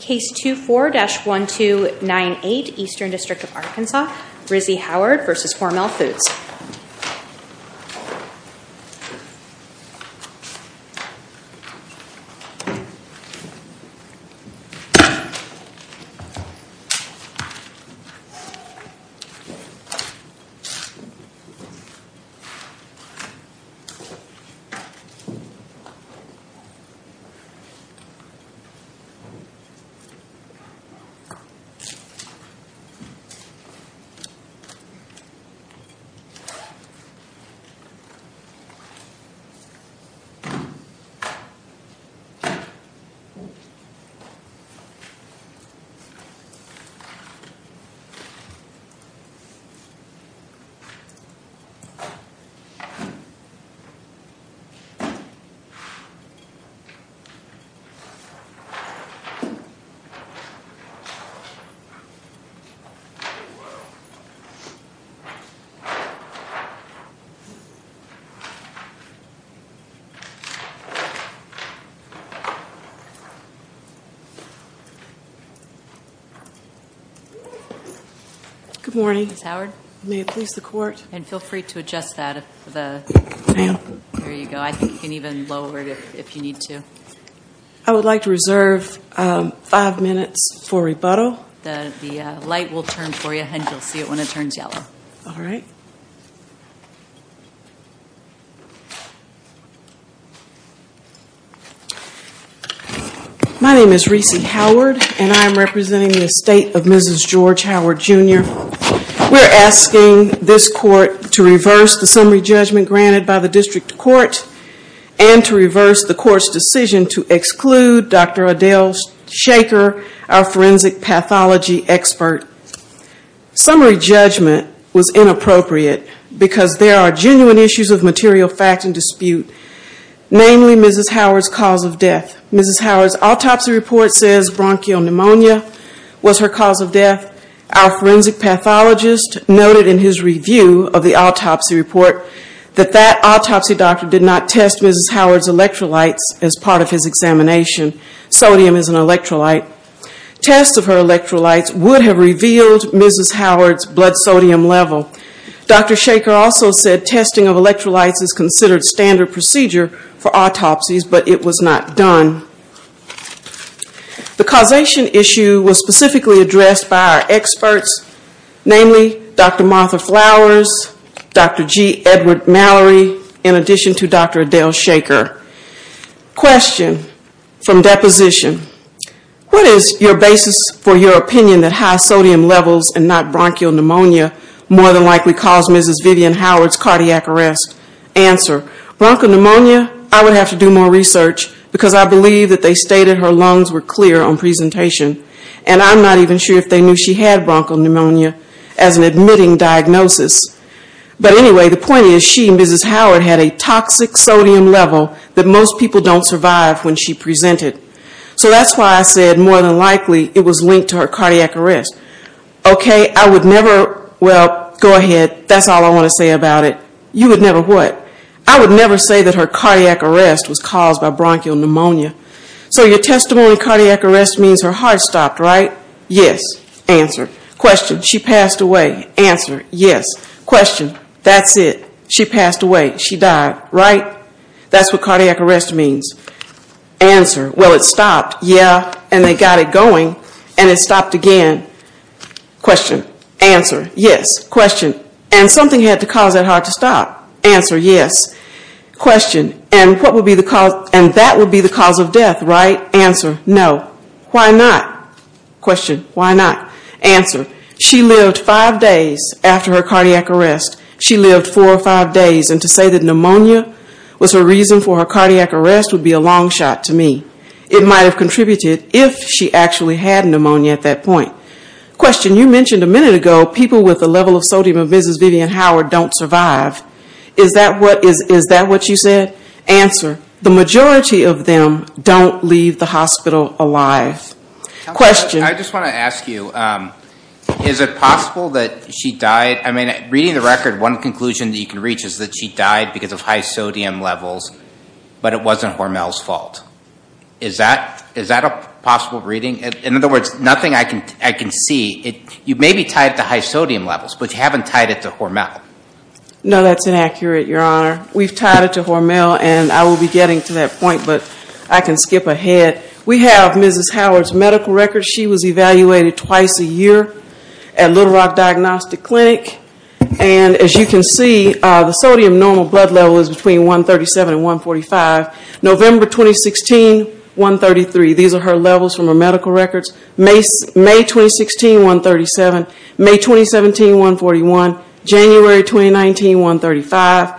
Case 24-1298, Eastern District of Arkansas, Rizzi Howard v. Hormel Foods Rizzi Howard v. Hormel Foods, Rizzi Howard v. Hormel Foods, Rizzi Howard v. Hormel Foods, Rizzi Howard v. Hormel Foods, Rizzi Howard v. Hormel Foods, Rizzi Howard v. I'm going to reserve five minutes for rebuttal. My name is Rizzi Howard and I am representing the estate of Mrs. George Howard Jr. We're asking this court to reverse the summary judgment granted by the district court and to reverse the court's decision to exclude Dr. Adele Shaker, our forensic pathology expert. Summary judgment was inappropriate because there are genuine issues of material fact and dispute, namely Mrs. Howard's cause of death. Mrs. Howard's autopsy report says bronchial pneumonia was her cause of death. Our forensic pathologist noted in his review of the autopsy report that that autopsy doctor did not test Mrs. Howard's electrolytes as part of his examination. Sodium is an electrolyte. Tests of her electrolytes would have revealed Mrs. Howard's blood sodium level. Dr. Shaker also said testing of electrolytes is considered standard procedure for autopsies, but it was not done. The causation issue was specifically addressed by our experts, namely Dr. Martha Flowers, Dr. G. Edward Mallory, in addition to Dr. Adele Shaker. Question from deposition. What is your basis for your opinion that high sodium levels and not bronchial pneumonia more than likely caused Mrs. Vivian Howard's cardiac arrest? Answer. Bronchial pneumonia, I would have to do more research because I believe that they stated her lungs were clear on presentation. And I'm not even sure if they knew she had bronchial pneumonia as an admitting diagnosis. But anyway, the point is she, Mrs. Howard, had a toxic sodium level that most people don't survive when she presented. So that's why I said more than likely it was linked to her cardiac arrest. Okay, I would never, well, go ahead, that's all I want to say about it. You would never what? I would never say that her cardiac arrest was caused by bronchial pneumonia. So your testimony cardiac arrest means her heart stopped, right? Yes. Answer. Question. She passed away. Answer. Yes. Question. That's it. She passed away. She died, right? That's what cardiac arrest means. Answer. Well, it stopped. Yeah. And they got it going. And it stopped again. Question. Answer. Yes. Question. And something had to cause that heart to stop. Answer. And that would be the cause of death, right? No. Why not? Question. Why not? Answer. She lived five days after her cardiac arrest. She lived four or five days. And to say that pneumonia was her reason for her cardiac arrest would be a long shot to me. It might have contributed if she actually had pneumonia at that point. Question. You mentioned a minute ago people with a level of sodium of Mrs. Vivian Howard don't survive. Is that what you said? Answer. The majority of them don't leave the hospital alive. Question. I just want to ask you, is it possible that she died? I mean, reading the record, one conclusion that you can reach is that she died because of high sodium levels, but it wasn't Hormel's fault. Is that a possible reading? In other words, nothing I can see. You may be tied to high sodium levels, but you haven't tied it to Hormel. No, that's inaccurate, Your Honor. We've tied it to Hormel, and I will be getting to that point, but I can skip ahead. We have Mrs. Howard's medical record. She was evaluated twice a year at Little Rock Diagnostic Clinic. And as you can see, the sodium normal blood level is between 137 and 145. November 2016, 133. These are her levels from her medical records. May 2016, 137. May 2017, 141. January 2019, 135.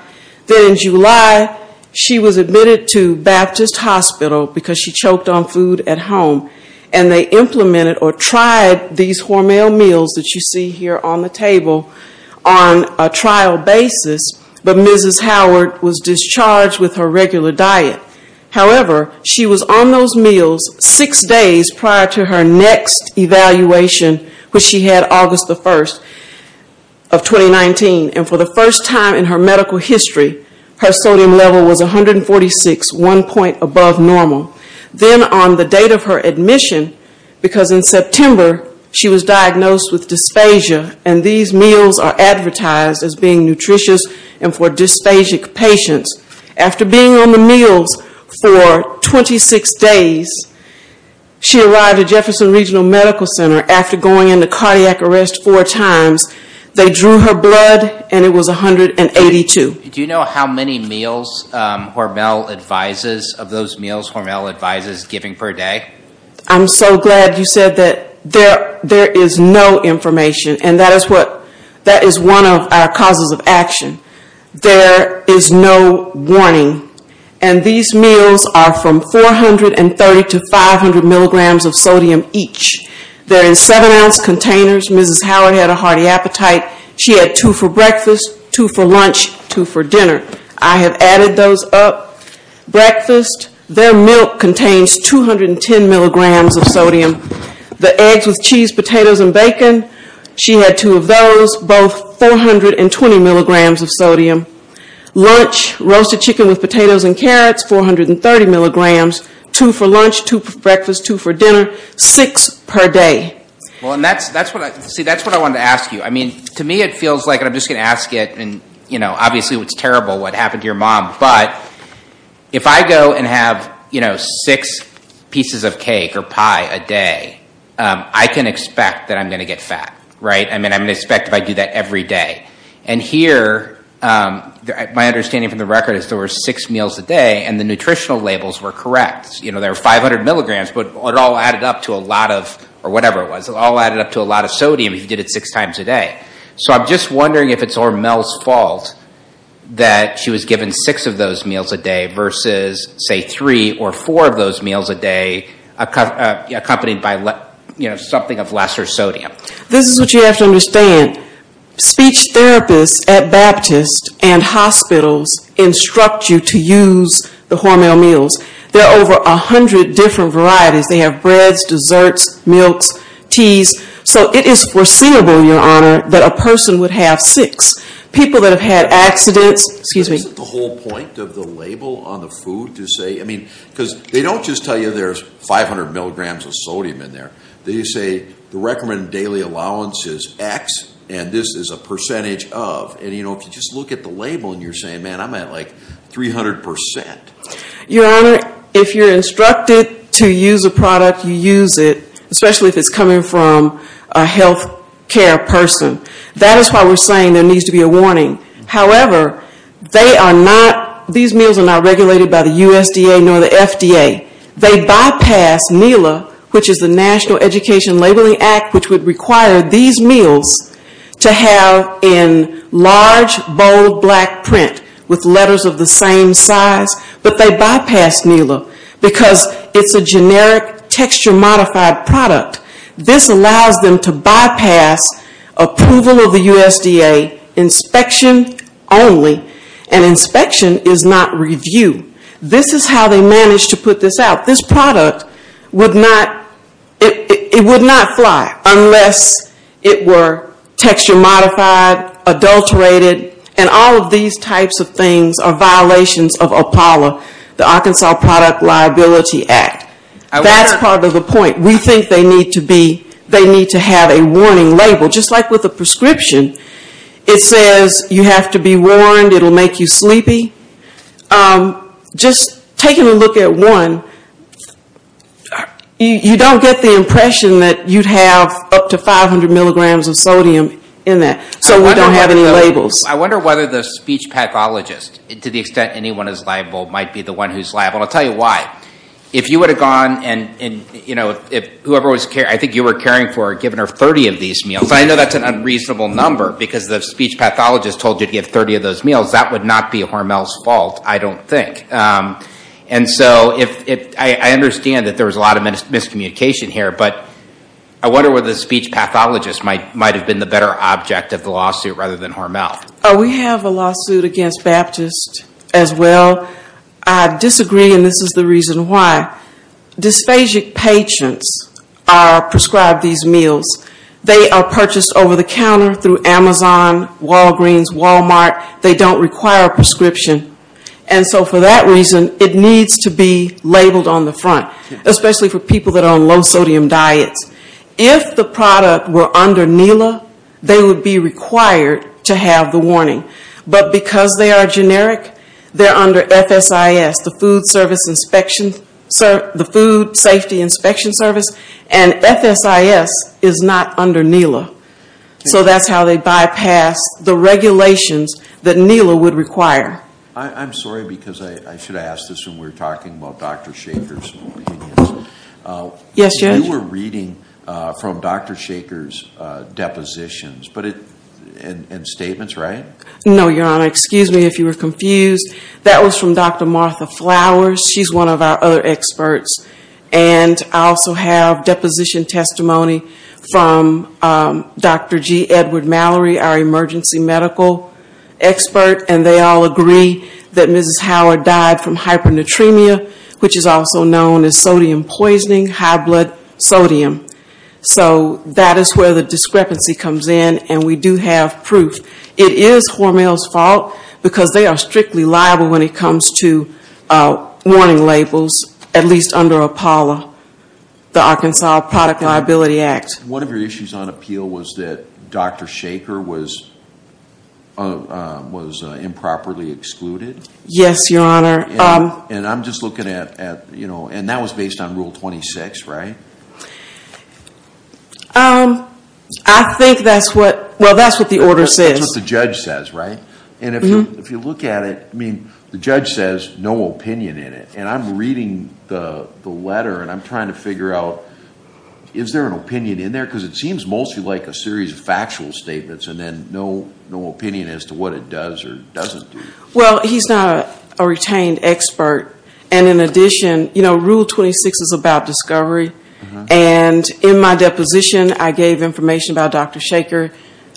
Then in July, she was admitted to Baptist Hospital because she choked on food at home, and they implemented or tried these Hormel meals that you see here on the table on a trial basis, but Mrs. Howard was discharged with her regular diet. However, she was on those meals six days prior to her next evaluation, which she had August the 1st of 2019. And for the first time in her medical history, her sodium level was 146, one point above normal. Then on the date of her admission, because in September she was diagnosed with dysphagia, and these meals are advertised as being nutritious and for dysphagic patients. After being on the meals for 26 days, she arrived at Jefferson Regional Medical Center. After going into cardiac arrest four times, they drew her blood, and it was 182. Do you know how many meals Hormel advises, of those meals Hormel advises giving per day? I'm so glad you said that. There is no information, and that is one of our causes of action. There is no warning, and these meals are from 430 to 500 milligrams of sodium each. They're in seven-ounce containers. Mrs. Howard had a hearty appetite. She had two for breakfast, two for lunch, two for dinner. I have added those up. Breakfast, their milk contains 210 milligrams of sodium. The eggs with cheese, potatoes, and bacon, she had two of those, both 420 milligrams of sodium. Lunch, roasted chicken with potatoes and carrots, 430 milligrams. Two for lunch, two for breakfast, two for dinner, six per day. See, that's what I wanted to ask you. To me it feels like, and I'm just going to ask it, and obviously it's terrible what happened to your mom, but if I go and have six pieces of cake or pie a day, I can expect that I'm going to get fat, right? I mean, I'm going to expect if I do that every day. And here, my understanding from the record is there were six meals a day, and the nutritional labels were correct. There were 500 milligrams, but it all added up to a lot of, or whatever it was, it all added up to a lot of sodium if you did it six times a day. So I'm just wondering if it's Hormel's fault that she was given six of those meals a day versus, say, three or four of those meals a day accompanied by something of lesser sodium. This is what you have to understand. Speech therapists at Baptist and hospitals instruct you to use the Hormel meals. There are over 100 different varieties. They have breads, desserts, milks, teas. So it is foreseeable, Your Honor, that a person would have six. People that have had accidents, excuse me. Isn't the whole point of the label on the food to say, I mean, because they don't just tell you there's 500 milligrams of sodium in there. They say the recommended daily allowance is X, and this is a percentage of. And, you know, if you just look at the label and you're saying, man, I'm at like 300%. Your Honor, if you're instructed to use a product, you use it, especially if it's coming from a health care person. That is why we're saying there needs to be a warning. However, they are not, these meals are not regulated by the USDA nor the FDA. They bypass NELA, which is the National Education Labeling Act, which would require these meals to have in large, bold, black print with letters of the same size. But they bypass NELA because it's a generic, texture-modified product. This allows them to bypass approval of the USDA, inspection only. And inspection is not review. This is how they managed to put this out. This product would not, it would not fly unless it were texture-modified, adulterated, and all of these types of things are violations of APALA, the Arkansas Product Liability Act. That's part of the point. We think they need to be, they need to have a warning label, just like with a prescription. It says you have to be warned, it will make you sleepy. Just taking a look at one, you don't get the impression that you'd have up to 500 milligrams of sodium in that. So we don't have any labels. I wonder whether the speech pathologist, to the extent anyone is liable, might be the one who's liable. And I'll tell you why. If you would have gone and, you know, whoever was caring, I think you were caring for giving her 30 of these meals. I know that's an unreasonable number because the speech pathologist told you to give 30 of those meals. That would not be Hormel's fault, I don't think. And so I understand that there was a lot of miscommunication here, but I wonder whether the speech pathologist might have been the better object of the lawsuit rather than Hormel. We have a lawsuit against Baptist as well. I disagree, and this is the reason why. Dysphagic patients are prescribed these meals. They are purchased over the counter through Amazon, Walgreens, Walmart. They don't require a prescription. And so for that reason, it needs to be labeled on the front, especially for people that are on low-sodium diets. If the product were under NELA, they would be required to have the warning. But because they are generic, they're under FSIS, the Food Safety Inspection Service. And FSIS is not under NELA. So that's how they bypass the regulations that NELA would require. I'm sorry because I should ask this when we're talking about Dr. Shachar's opinions. Yes, Judge. You were reading from Dr. Shachar's depositions and statements, right? No, Your Honor. Excuse me if you were confused. That was from Dr. Martha Flowers. She's one of our other experts. And I also have deposition testimony from Dr. G. Edward Mallory, our emergency medical expert. And they all agree that Mrs. Howard died from hypernatremia, which is also known as sodium poisoning, high blood sodium. So that is where the discrepancy comes in. And we do have proof. It is Hormel's fault because they are strictly liable when it comes to warning labels, at least under APALA, the Arkansas Product Liability Act. One of your issues on appeal was that Dr. Shachar was improperly excluded. Yes, Your Honor. And I'm just looking at, you know, and that was based on Rule 26, right? I think that's what, well, that's what the order says. That's what the judge says, right? And if you look at it, I mean, the judge says no opinion in it. And I'm reading the letter and I'm trying to figure out, is there an opinion in there? Because it seems mostly like a series of factual statements and then no opinion as to what it does or doesn't do. Well, he's not a retained expert. And in addition, you know, Rule 26 is about discovery. And in my deposition, I gave information about Dr. Shachar.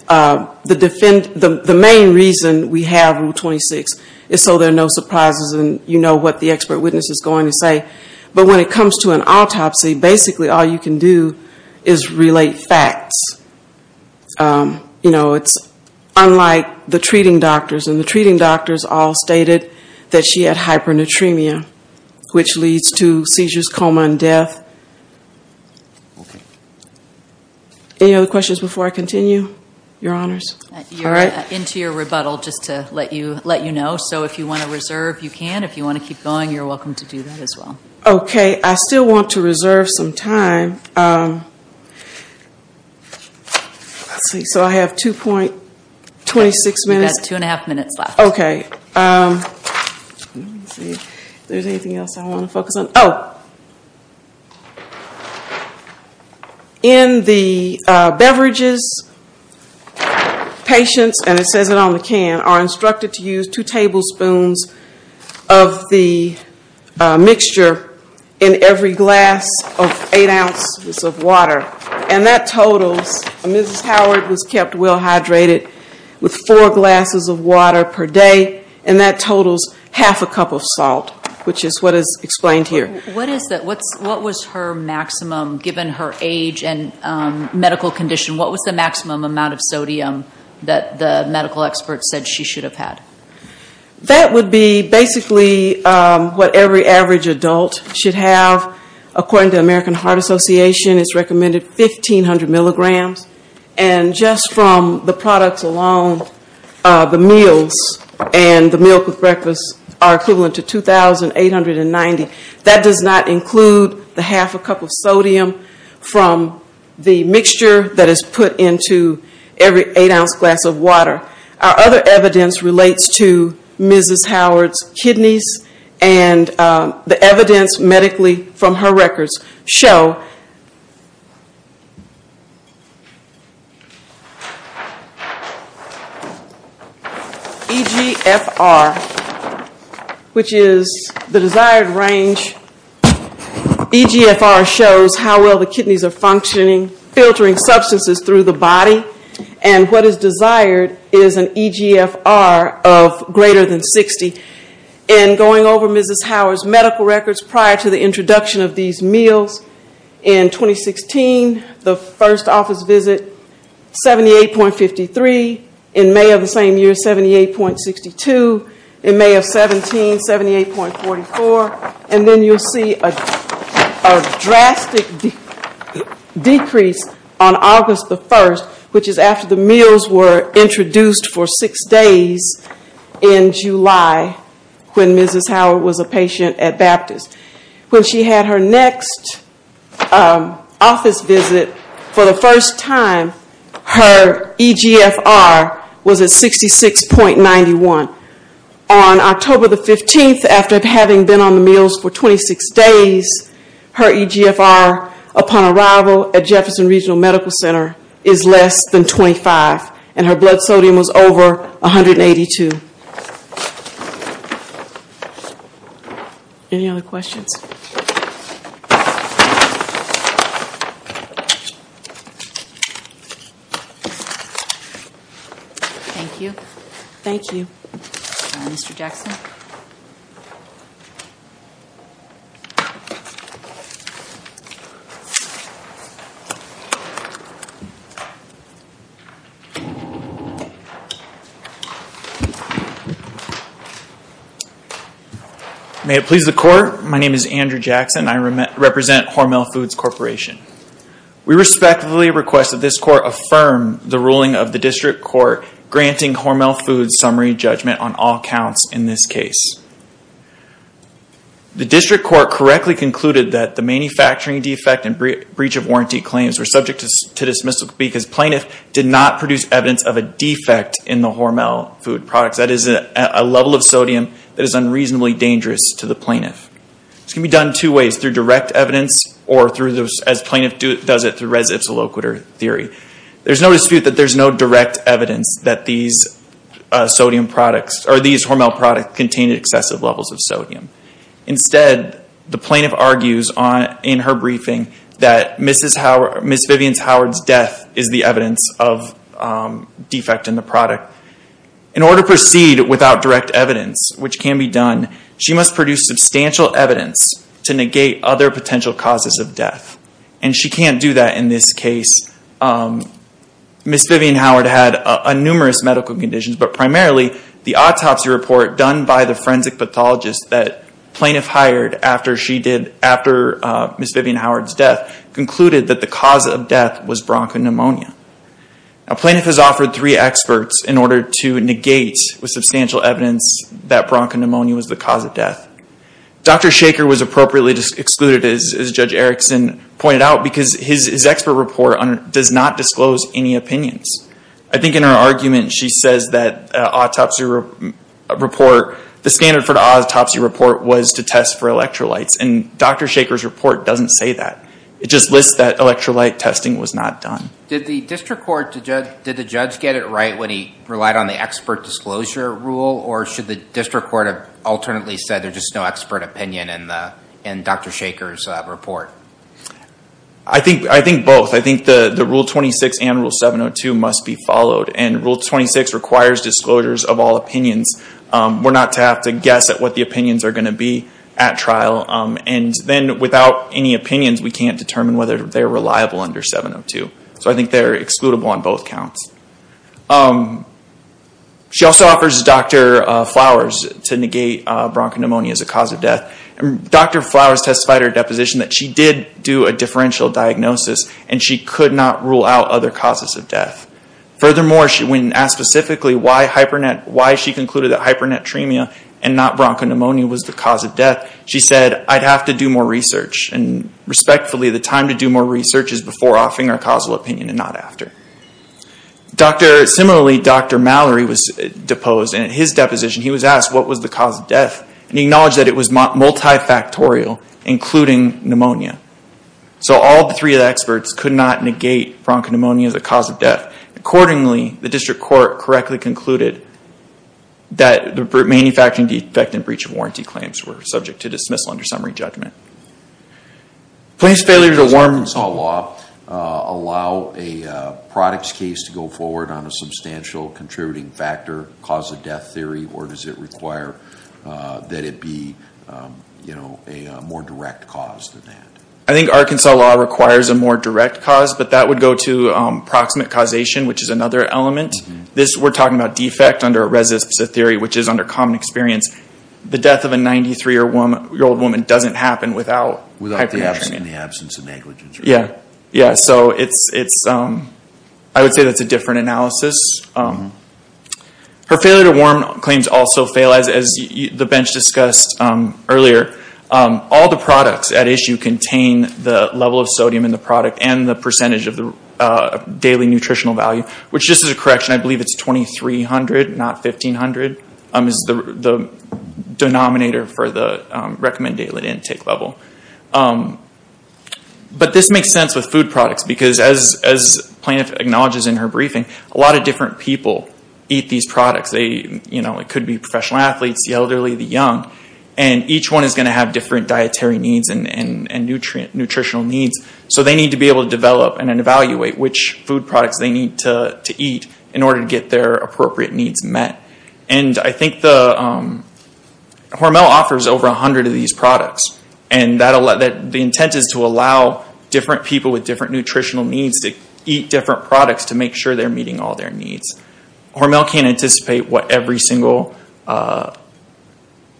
The main reason we have Rule 26 is so there are no surprises and you know what the expert witness is going to say. But when it comes to an autopsy, basically all you can do is relate facts. You know, it's unlike the treating doctors. And the treating doctors all stated that she had hypernatremia, which leads to seizures, coma, and death. Okay. Any other questions before I continue, Your Honors? You're into your rebuttal just to let you know. So if you want to reserve, you can. If you want to keep going, you're welcome to do that as well. Okay. I still want to reserve some time. Let's see. So I have 2.26 minutes. You've got two and a half minutes left. Okay. Let me see if there's anything else I want to focus on. Oh. In the beverages, patients, and it says it on the can, are instructed to use two tablespoons of the mixture in every glass of eight ounces of water. And that totals, Mrs. Howard was kept well hydrated with four glasses of water per day. And that totals half a cup of salt, which is what is explained here. What is that? What was her maximum, given her age and medical condition, what was the maximum amount of sodium that the medical experts said she should have had? That would be basically what every average adult should have. According to the American Heart Association, it's recommended 1,500 milligrams. And just from the products alone, the meals and the milk with breakfast are equivalent to 2,890. That does not include the half a cup of sodium from the mixture that is put into every eight-ounce glass of water. Our other evidence relates to Mrs. Howard's kidneys, and the evidence medically from her records show EGFR, which is the desired range. EGFR shows how well the kidneys are functioning, filtering substances through the body. And what is desired is an EGFR of greater than 60. And going over Mrs. Howard's medical records prior to the introduction of these meals, in 2016, the first office visit, 78.53. In May of the same year, 78.62. In May of 17, 78.44. And then you'll see a drastic decrease on August 1st, which is after the meals were introduced for six days in July, when Mrs. Howard was a patient at Baptist. When she had her next office visit for the first time, her EGFR was at 66.91. On October 15, after having been on the meals for 26 days, her EGFR upon arrival at Jefferson Regional Medical Center is less than 25, and her blood sodium was over 182. Any other questions? Thank you. Thank you, Mr. Jackson. May it please the Court, my name is Andrew Jackson. I represent Hormel Foods Corporation. We respectfully request that this Court affirm the ruling of the District Court granting Hormel Foods summary judgment on all counts in this case. The District Court correctly concluded that the manufacturing defect and breach of warranty claims were subject to dismissal because plaintiff did not produce evidence of a defect in the Hormel Foods products. That is a level of sodium that is unreasonably dangerous to the plaintiff. This can be done two ways, through direct evidence or, as plaintiff does it, through res ipsa loquitur theory. There is no dispute that there is no direct evidence that these Hormel products contain excessive levels of sodium. Instead, the plaintiff argues in her briefing that Ms. Vivian Howard's death is the evidence of defect in the product. In order to proceed without direct evidence, which can be done, she must produce substantial evidence to negate other potential causes of death. And she can't do that in this case. Ms. Vivian Howard had numerous medical conditions, but primarily the autopsy report done by the forensic pathologist that plaintiff hired after Ms. Vivian Howard's death concluded that the cause of death was bronchopneumonia. Plaintiff has offered three experts in order to negate with substantial evidence that bronchopneumonia was the cause of death. Dr. Shaker was appropriately excluded, as Judge Erickson pointed out, because his expert report does not disclose any opinions. I think in her argument, she says that the standard for the autopsy report was to test for electrolytes, and Dr. Shaker's report doesn't say that. It just lists that electrolyte testing was not done. Did the district court, did the judge get it right when he relied on the expert disclosure rule? Or should the district court have alternately said there's just no expert opinion in Dr. Shaker's report? I think both. I think the Rule 26 and Rule 702 must be followed. And Rule 26 requires disclosures of all opinions. We're not to have to guess at what the opinions are going to be at trial. And then without any opinions, we can't determine whether they're reliable under 702. So I think they're excludable on both counts. She also offers Dr. Flowers to negate bronchopneumonia as a cause of death. Dr. Flowers testified at her deposition that she did do a differential diagnosis, and she could not rule out other causes of death. Furthermore, when asked specifically why she concluded that hypernetremia and not bronchopneumonia was the cause of death, she said, I'd have to do more research. And respectfully, the time to do more research is before offering our causal opinion and not after. Similarly, Dr. Mallory was deposed. And at his deposition, he was asked what was the cause of death. And he acknowledged that it was multifactorial, including pneumonia. So all three of the experts could not negate bronchopneumonia as a cause of death. Accordingly, the district court correctly concluded that the manufacturing defect and breach of warranty claims were subject to dismissal under summary judgment. Police failure to warn law allow a products case to go forward on a substantial contributing factor, cause of death theory, or does it require that it be a more direct cause than that? I think Arkansas law requires a more direct cause, but that would go to proximate causation, which is another element. We're talking about defect under a residency theory, which is under common experience. The death of a 93-year-old woman doesn't happen without hypernetremia. In the absence of negligence. Yeah. So I would say that's a different analysis. Her failure to warn claims also fail as the bench discussed earlier. All the products at issue contain the level of sodium in the product and the percentage of the daily nutritional value. Which, just as a correction, I believe it's 2300, not 1500, is the denominator for the recommended intake level. But this makes sense with food products, because as Plaintiff acknowledges in her briefing, a lot of different people eat these products. It could be professional athletes, the elderly, the young. And each one is going to have different dietary needs and nutritional needs. So they need to be able to develop and evaluate which food products they need to eat in order to get their appropriate needs met. And I think Hormel offers over 100 of these products. And the intent is to allow different people with different nutritional needs to eat different products to make sure they're meeting all their needs. Hormel can't anticipate what every single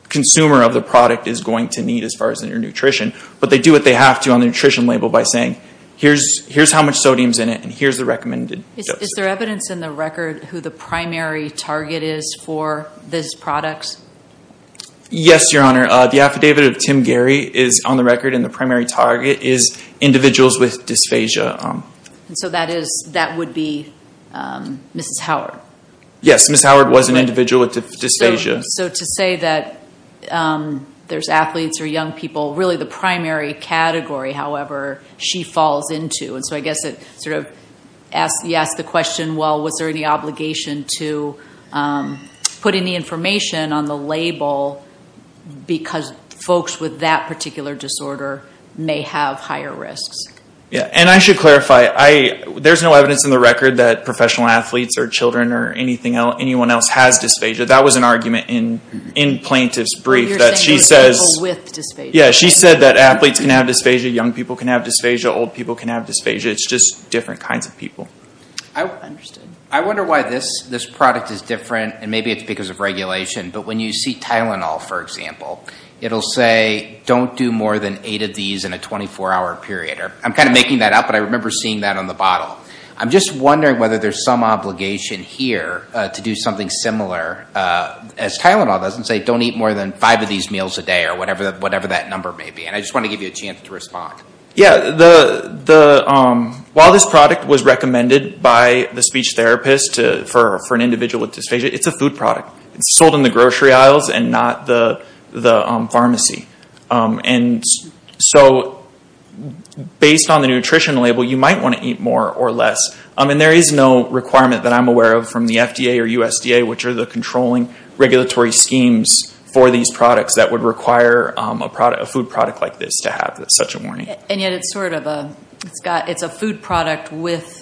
consumer of the product is going to need as far as their nutrition. But they do what they have to on the nutrition label by saying, here's how much sodium's in it, and here's the recommended. Is there evidence in the record who the primary target is for this product? Yes, Your Honor. The affidavit of Tim Gary is on the record, and the primary target is individuals with dysphagia. So that would be Mrs. Howard? Yes, Mrs. Howard was an individual with dysphagia. So to say that there's athletes or young people, really the primary category, however, she falls into. And so I guess you ask the question, well, was there any obligation to put any information on the label because folks with that particular disorder may have higher risks? Yes, and I should clarify, there's no evidence in the record that professional athletes or children or anyone else has dysphagia. That was an argument in Plaintiff's brief that she says that athletes can have dysphagia, young people can have dysphagia, old people can have dysphagia. It's just different kinds of people. I wonder why this product is different, and maybe it's because of regulation, but when you see Tylenol, for example, it'll say, don't do more than eight of these in a 24-hour period. I'm kind of making that up, but I remember seeing that on the bottle. I'm just wondering whether there's some obligation here to do something similar. As Tylenol doesn't say, don't eat more than five of these meals a day or whatever that number may be. And I just want to give you a chance to respond. Yes, while this product was recommended by the speech therapist for an individual with dysphagia, it's a food product. It's sold in the grocery aisles and not the pharmacy. And so based on the nutrition label, you might want to eat more or less. And there is no requirement that I'm aware of from the FDA or USDA, which are the controlling regulatory schemes for these products that would require a food product like this to have such a warning. And yet it's a food product with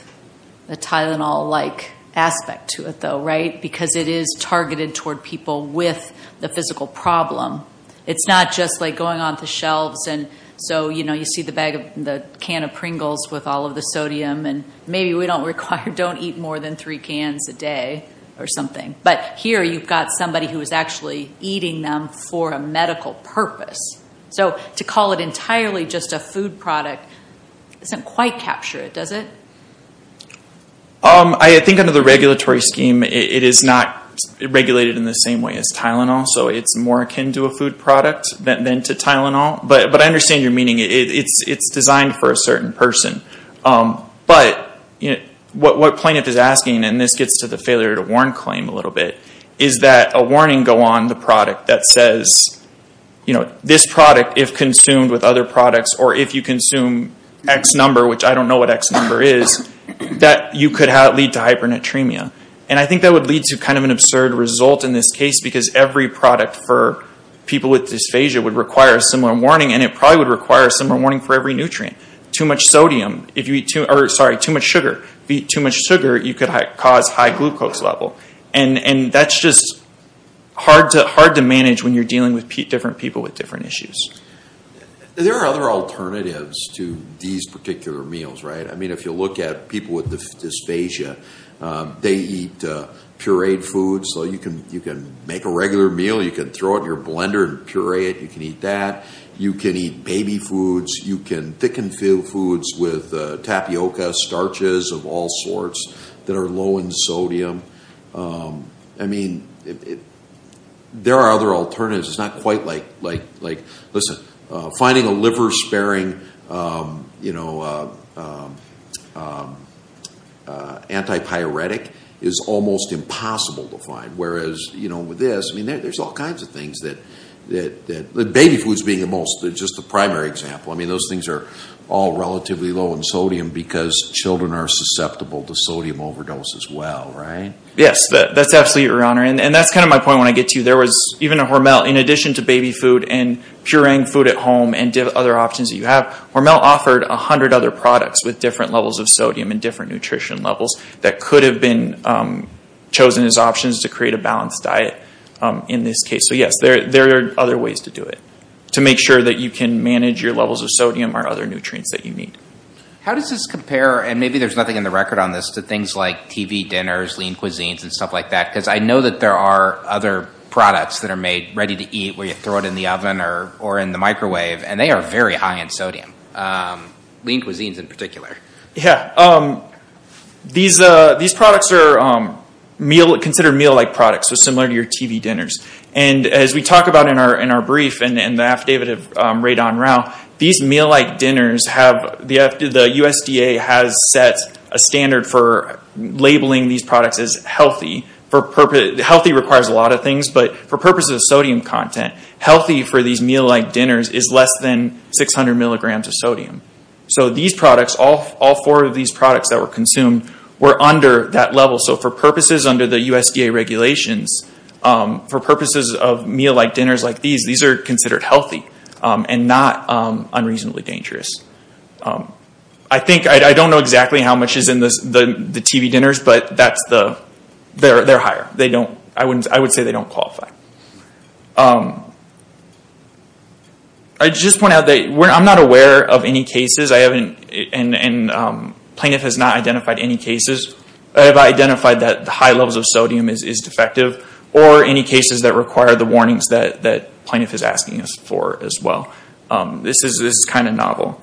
a Tylenol-like aspect to it, though, right? Because it is targeted toward people with the physical problem. It's not just like going on the shelves, and so you see the can of Pringles with all of the sodium, and maybe we don't require don't eat more than three cans a day or something. But here you've got somebody who is actually eating them for a medical purpose. So to call it entirely just a food product doesn't quite capture it, does it? I think under the regulatory scheme, it is not regulated in the same way as Tylenol, so it's more akin to a food product than to Tylenol. But I understand your meaning. It's designed for a certain person. But what plaintiff is asking, and this gets to the failure to warn claim a little bit, is that a warning go on the product that says this product, if consumed with other products, or if you consume X number, which I don't know what X number is, that you could have it lead to hypernatremia. And I think that would lead to kind of an absurd result in this case, because every product for people with dysphagia would require a similar warning, and it probably would require a similar warning for every nutrient. Too much sugar, if you eat too much sugar, you could cause high glucose level. And that's just hard to manage when you're dealing with different people with different issues. There are other alternatives to these particular meals, right? I mean, if you look at people with dysphagia, they eat pureed foods. So you can make a regular meal. You can throw it in your blender and puree it. You can eat that. You can eat baby foods. You can thicken foods with tapioca starches of all sorts that are low in sodium. I mean, there are other alternatives. It's not quite like, listen, finding a liver-sparing antipyretic is almost impossible to find. Whereas with this, I mean, there's all kinds of things that, baby foods being the most, just the primary example, I mean, those things are all relatively low in sodium because children are susceptible to sodium overdose as well, right? Yes, that's absolutely your honor, and that's kind of my point when I get to you. There was even a Hormel, in addition to baby food and pureeing food at home and other options that you have, Hormel offered 100 other products with different levels of sodium and different nutrition levels that could have been chosen as options to create a balanced diet in this case. So yes, there are other ways to do it, to make sure that you can manage your levels of sodium or other nutrients that you need. How does this compare, and maybe there's nothing in the record on this, to things like TV dinners, lean cuisines, and stuff like that? Because I know that there are other products that are made ready to eat where you throw it in the oven or in the microwave, and they are very high in sodium, lean cuisines in particular. Yeah. These products are considered meal-like products, so similar to your TV dinners. And as we talk about in our brief, and the affidavit of Radon Rao, these meal-like dinners have, the USDA has set a standard for labeling these products as healthy. Healthy requires a lot of things, but for purposes of sodium content, healthy for these meal-like dinners is less than 600 milligrams of sodium. So these products, all four of these products that were consumed, were under that level. So for purposes under the USDA regulations, for purposes of meal-like dinners like these, these are considered healthy and not unreasonably dangerous. I think, I don't know exactly how much is in the TV dinners, but they're higher. I would say they don't qualify. I'd just point out that I'm not aware of any cases, and Plaintiff has not identified any cases. I have identified that the high levels of sodium is defective, or any cases that require the warnings that Plaintiff is asking for as well. This is kind of novel.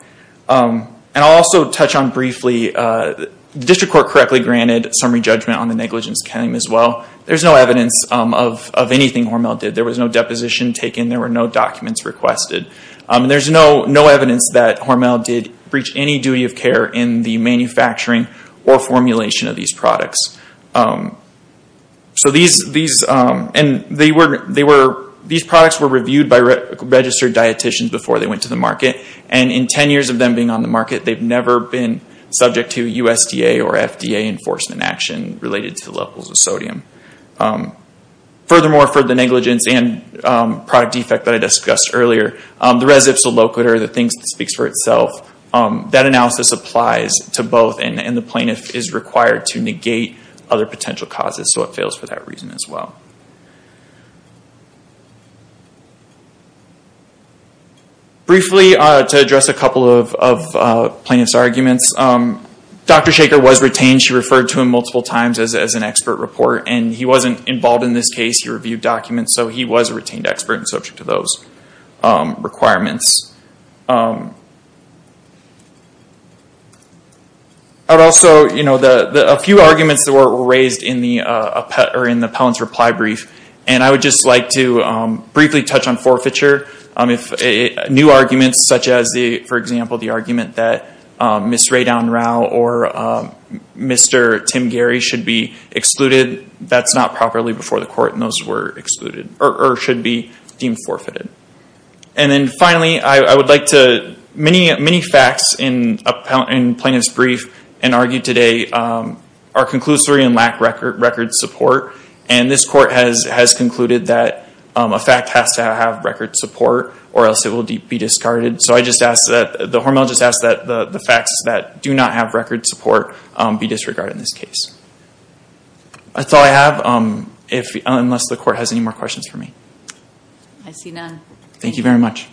And I'll also touch on briefly, the District Court correctly granted summary judgment on the negligence claim as well. There's no evidence of anything Hormel did. There was no deposition taken. There were no documents requested. There's no evidence that Hormel did breach any duty of care in the manufacturing or formulation of these products. So these products were reviewed by registered dietitians before they went to the market. And in 10 years of them being on the market, they've never been subject to USDA or FDA enforcement action related to levels of sodium. Furthermore, for the negligence and product defect that I discussed earlier, the res ipsa locator, the thing that speaks for itself, that analysis applies to both, and the Plaintiff is required to negate other potential causes, so it fails for that reason as well. Briefly, to address a couple of Plaintiff's arguments, Dr. Shaker was retained. She referred to him multiple times as an expert report, and he wasn't involved in this case. He reviewed documents, so he was a retained expert and subject to those requirements. Also, a few arguments that were raised in the appellant's reply brief, and I would just like to briefly touch on forfeiture. New arguments such as, for example, the argument that Ms. Radon Rao or Mr. Tim Gary should be excluded, that's not properly before the court, and those were excluded, or should be deemed forfeited. Finally, I would like to, many facts in Plaintiff's brief and argued today are conclusory and lack record support, and this court has concluded that a fact has to have record support, or else it will be discarded, so I just ask that the facts that do not have record support be disregarded in this case. That's all I have, unless the court has any more questions for me. I see none. Thank you very much.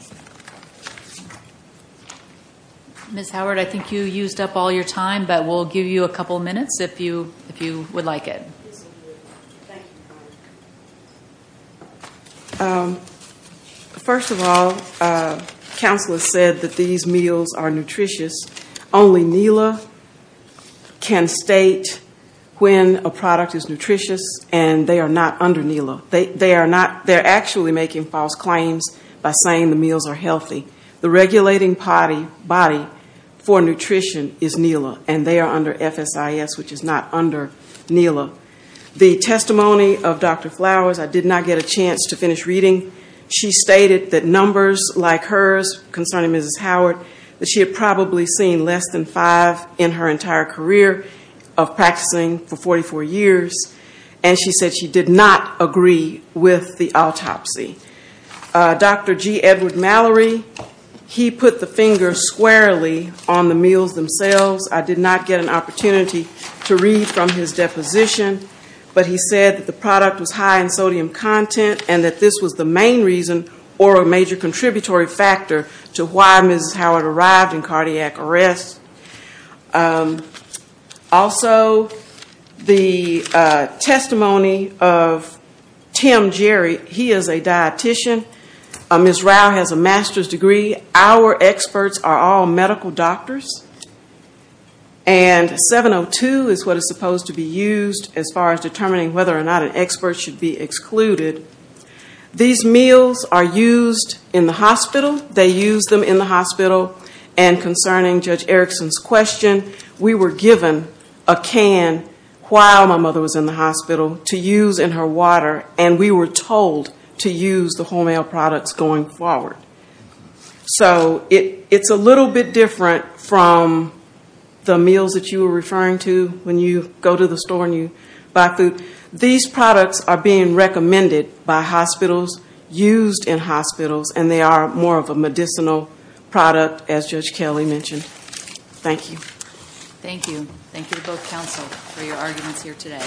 Ms. Howard, I think you used up all your time, but we'll give you a couple of minutes if you would like it. Yes, thank you. First of all, counsel has said that these meals are nutritious. Only NELA can state when a product is nutritious, and they are not under NELA. They are actually making false claims by saying the meals are healthy. The regulating body for nutrition is NELA, and they are under FSIS, which is not under NELA. The testimony of Dr. Flowers, I did not get a chance to finish reading. She stated that numbers like hers concerning Mrs. Howard, that she had probably seen less than five in her entire career of practicing for 44 years, and she said she did not agree with the autopsy. Dr. G. Edward Mallory, he put the finger squarely on the meals themselves. I did not get an opportunity to read from his deposition, but he said that the product was high in sodium content and that this was the main reason or a major contributory factor to why Mrs. Howard arrived in cardiac arrest. Also, the testimony of Tim Jerry, he is a dietician. Ms. Rao has a master's degree. Our experts are all medical doctors, and 702 is what is supposed to be used as far as determining whether or not an expert should be excluded. These meals are used in the hospital. They use them in the hospital, and concerning Judge Erickson's question, we were given a can while my mother was in the hospital to use in her water, and we were told to use the wholemeal products going forward. So it's a little bit different from the meals that you were referring to when you go to the store and you buy food. These products are being recommended by hospitals, used in hospitals, and they are more of a medicinal product, as Judge Kelly mentioned. Thank you. Thank you. Thank you to both counsel for your arguments here today.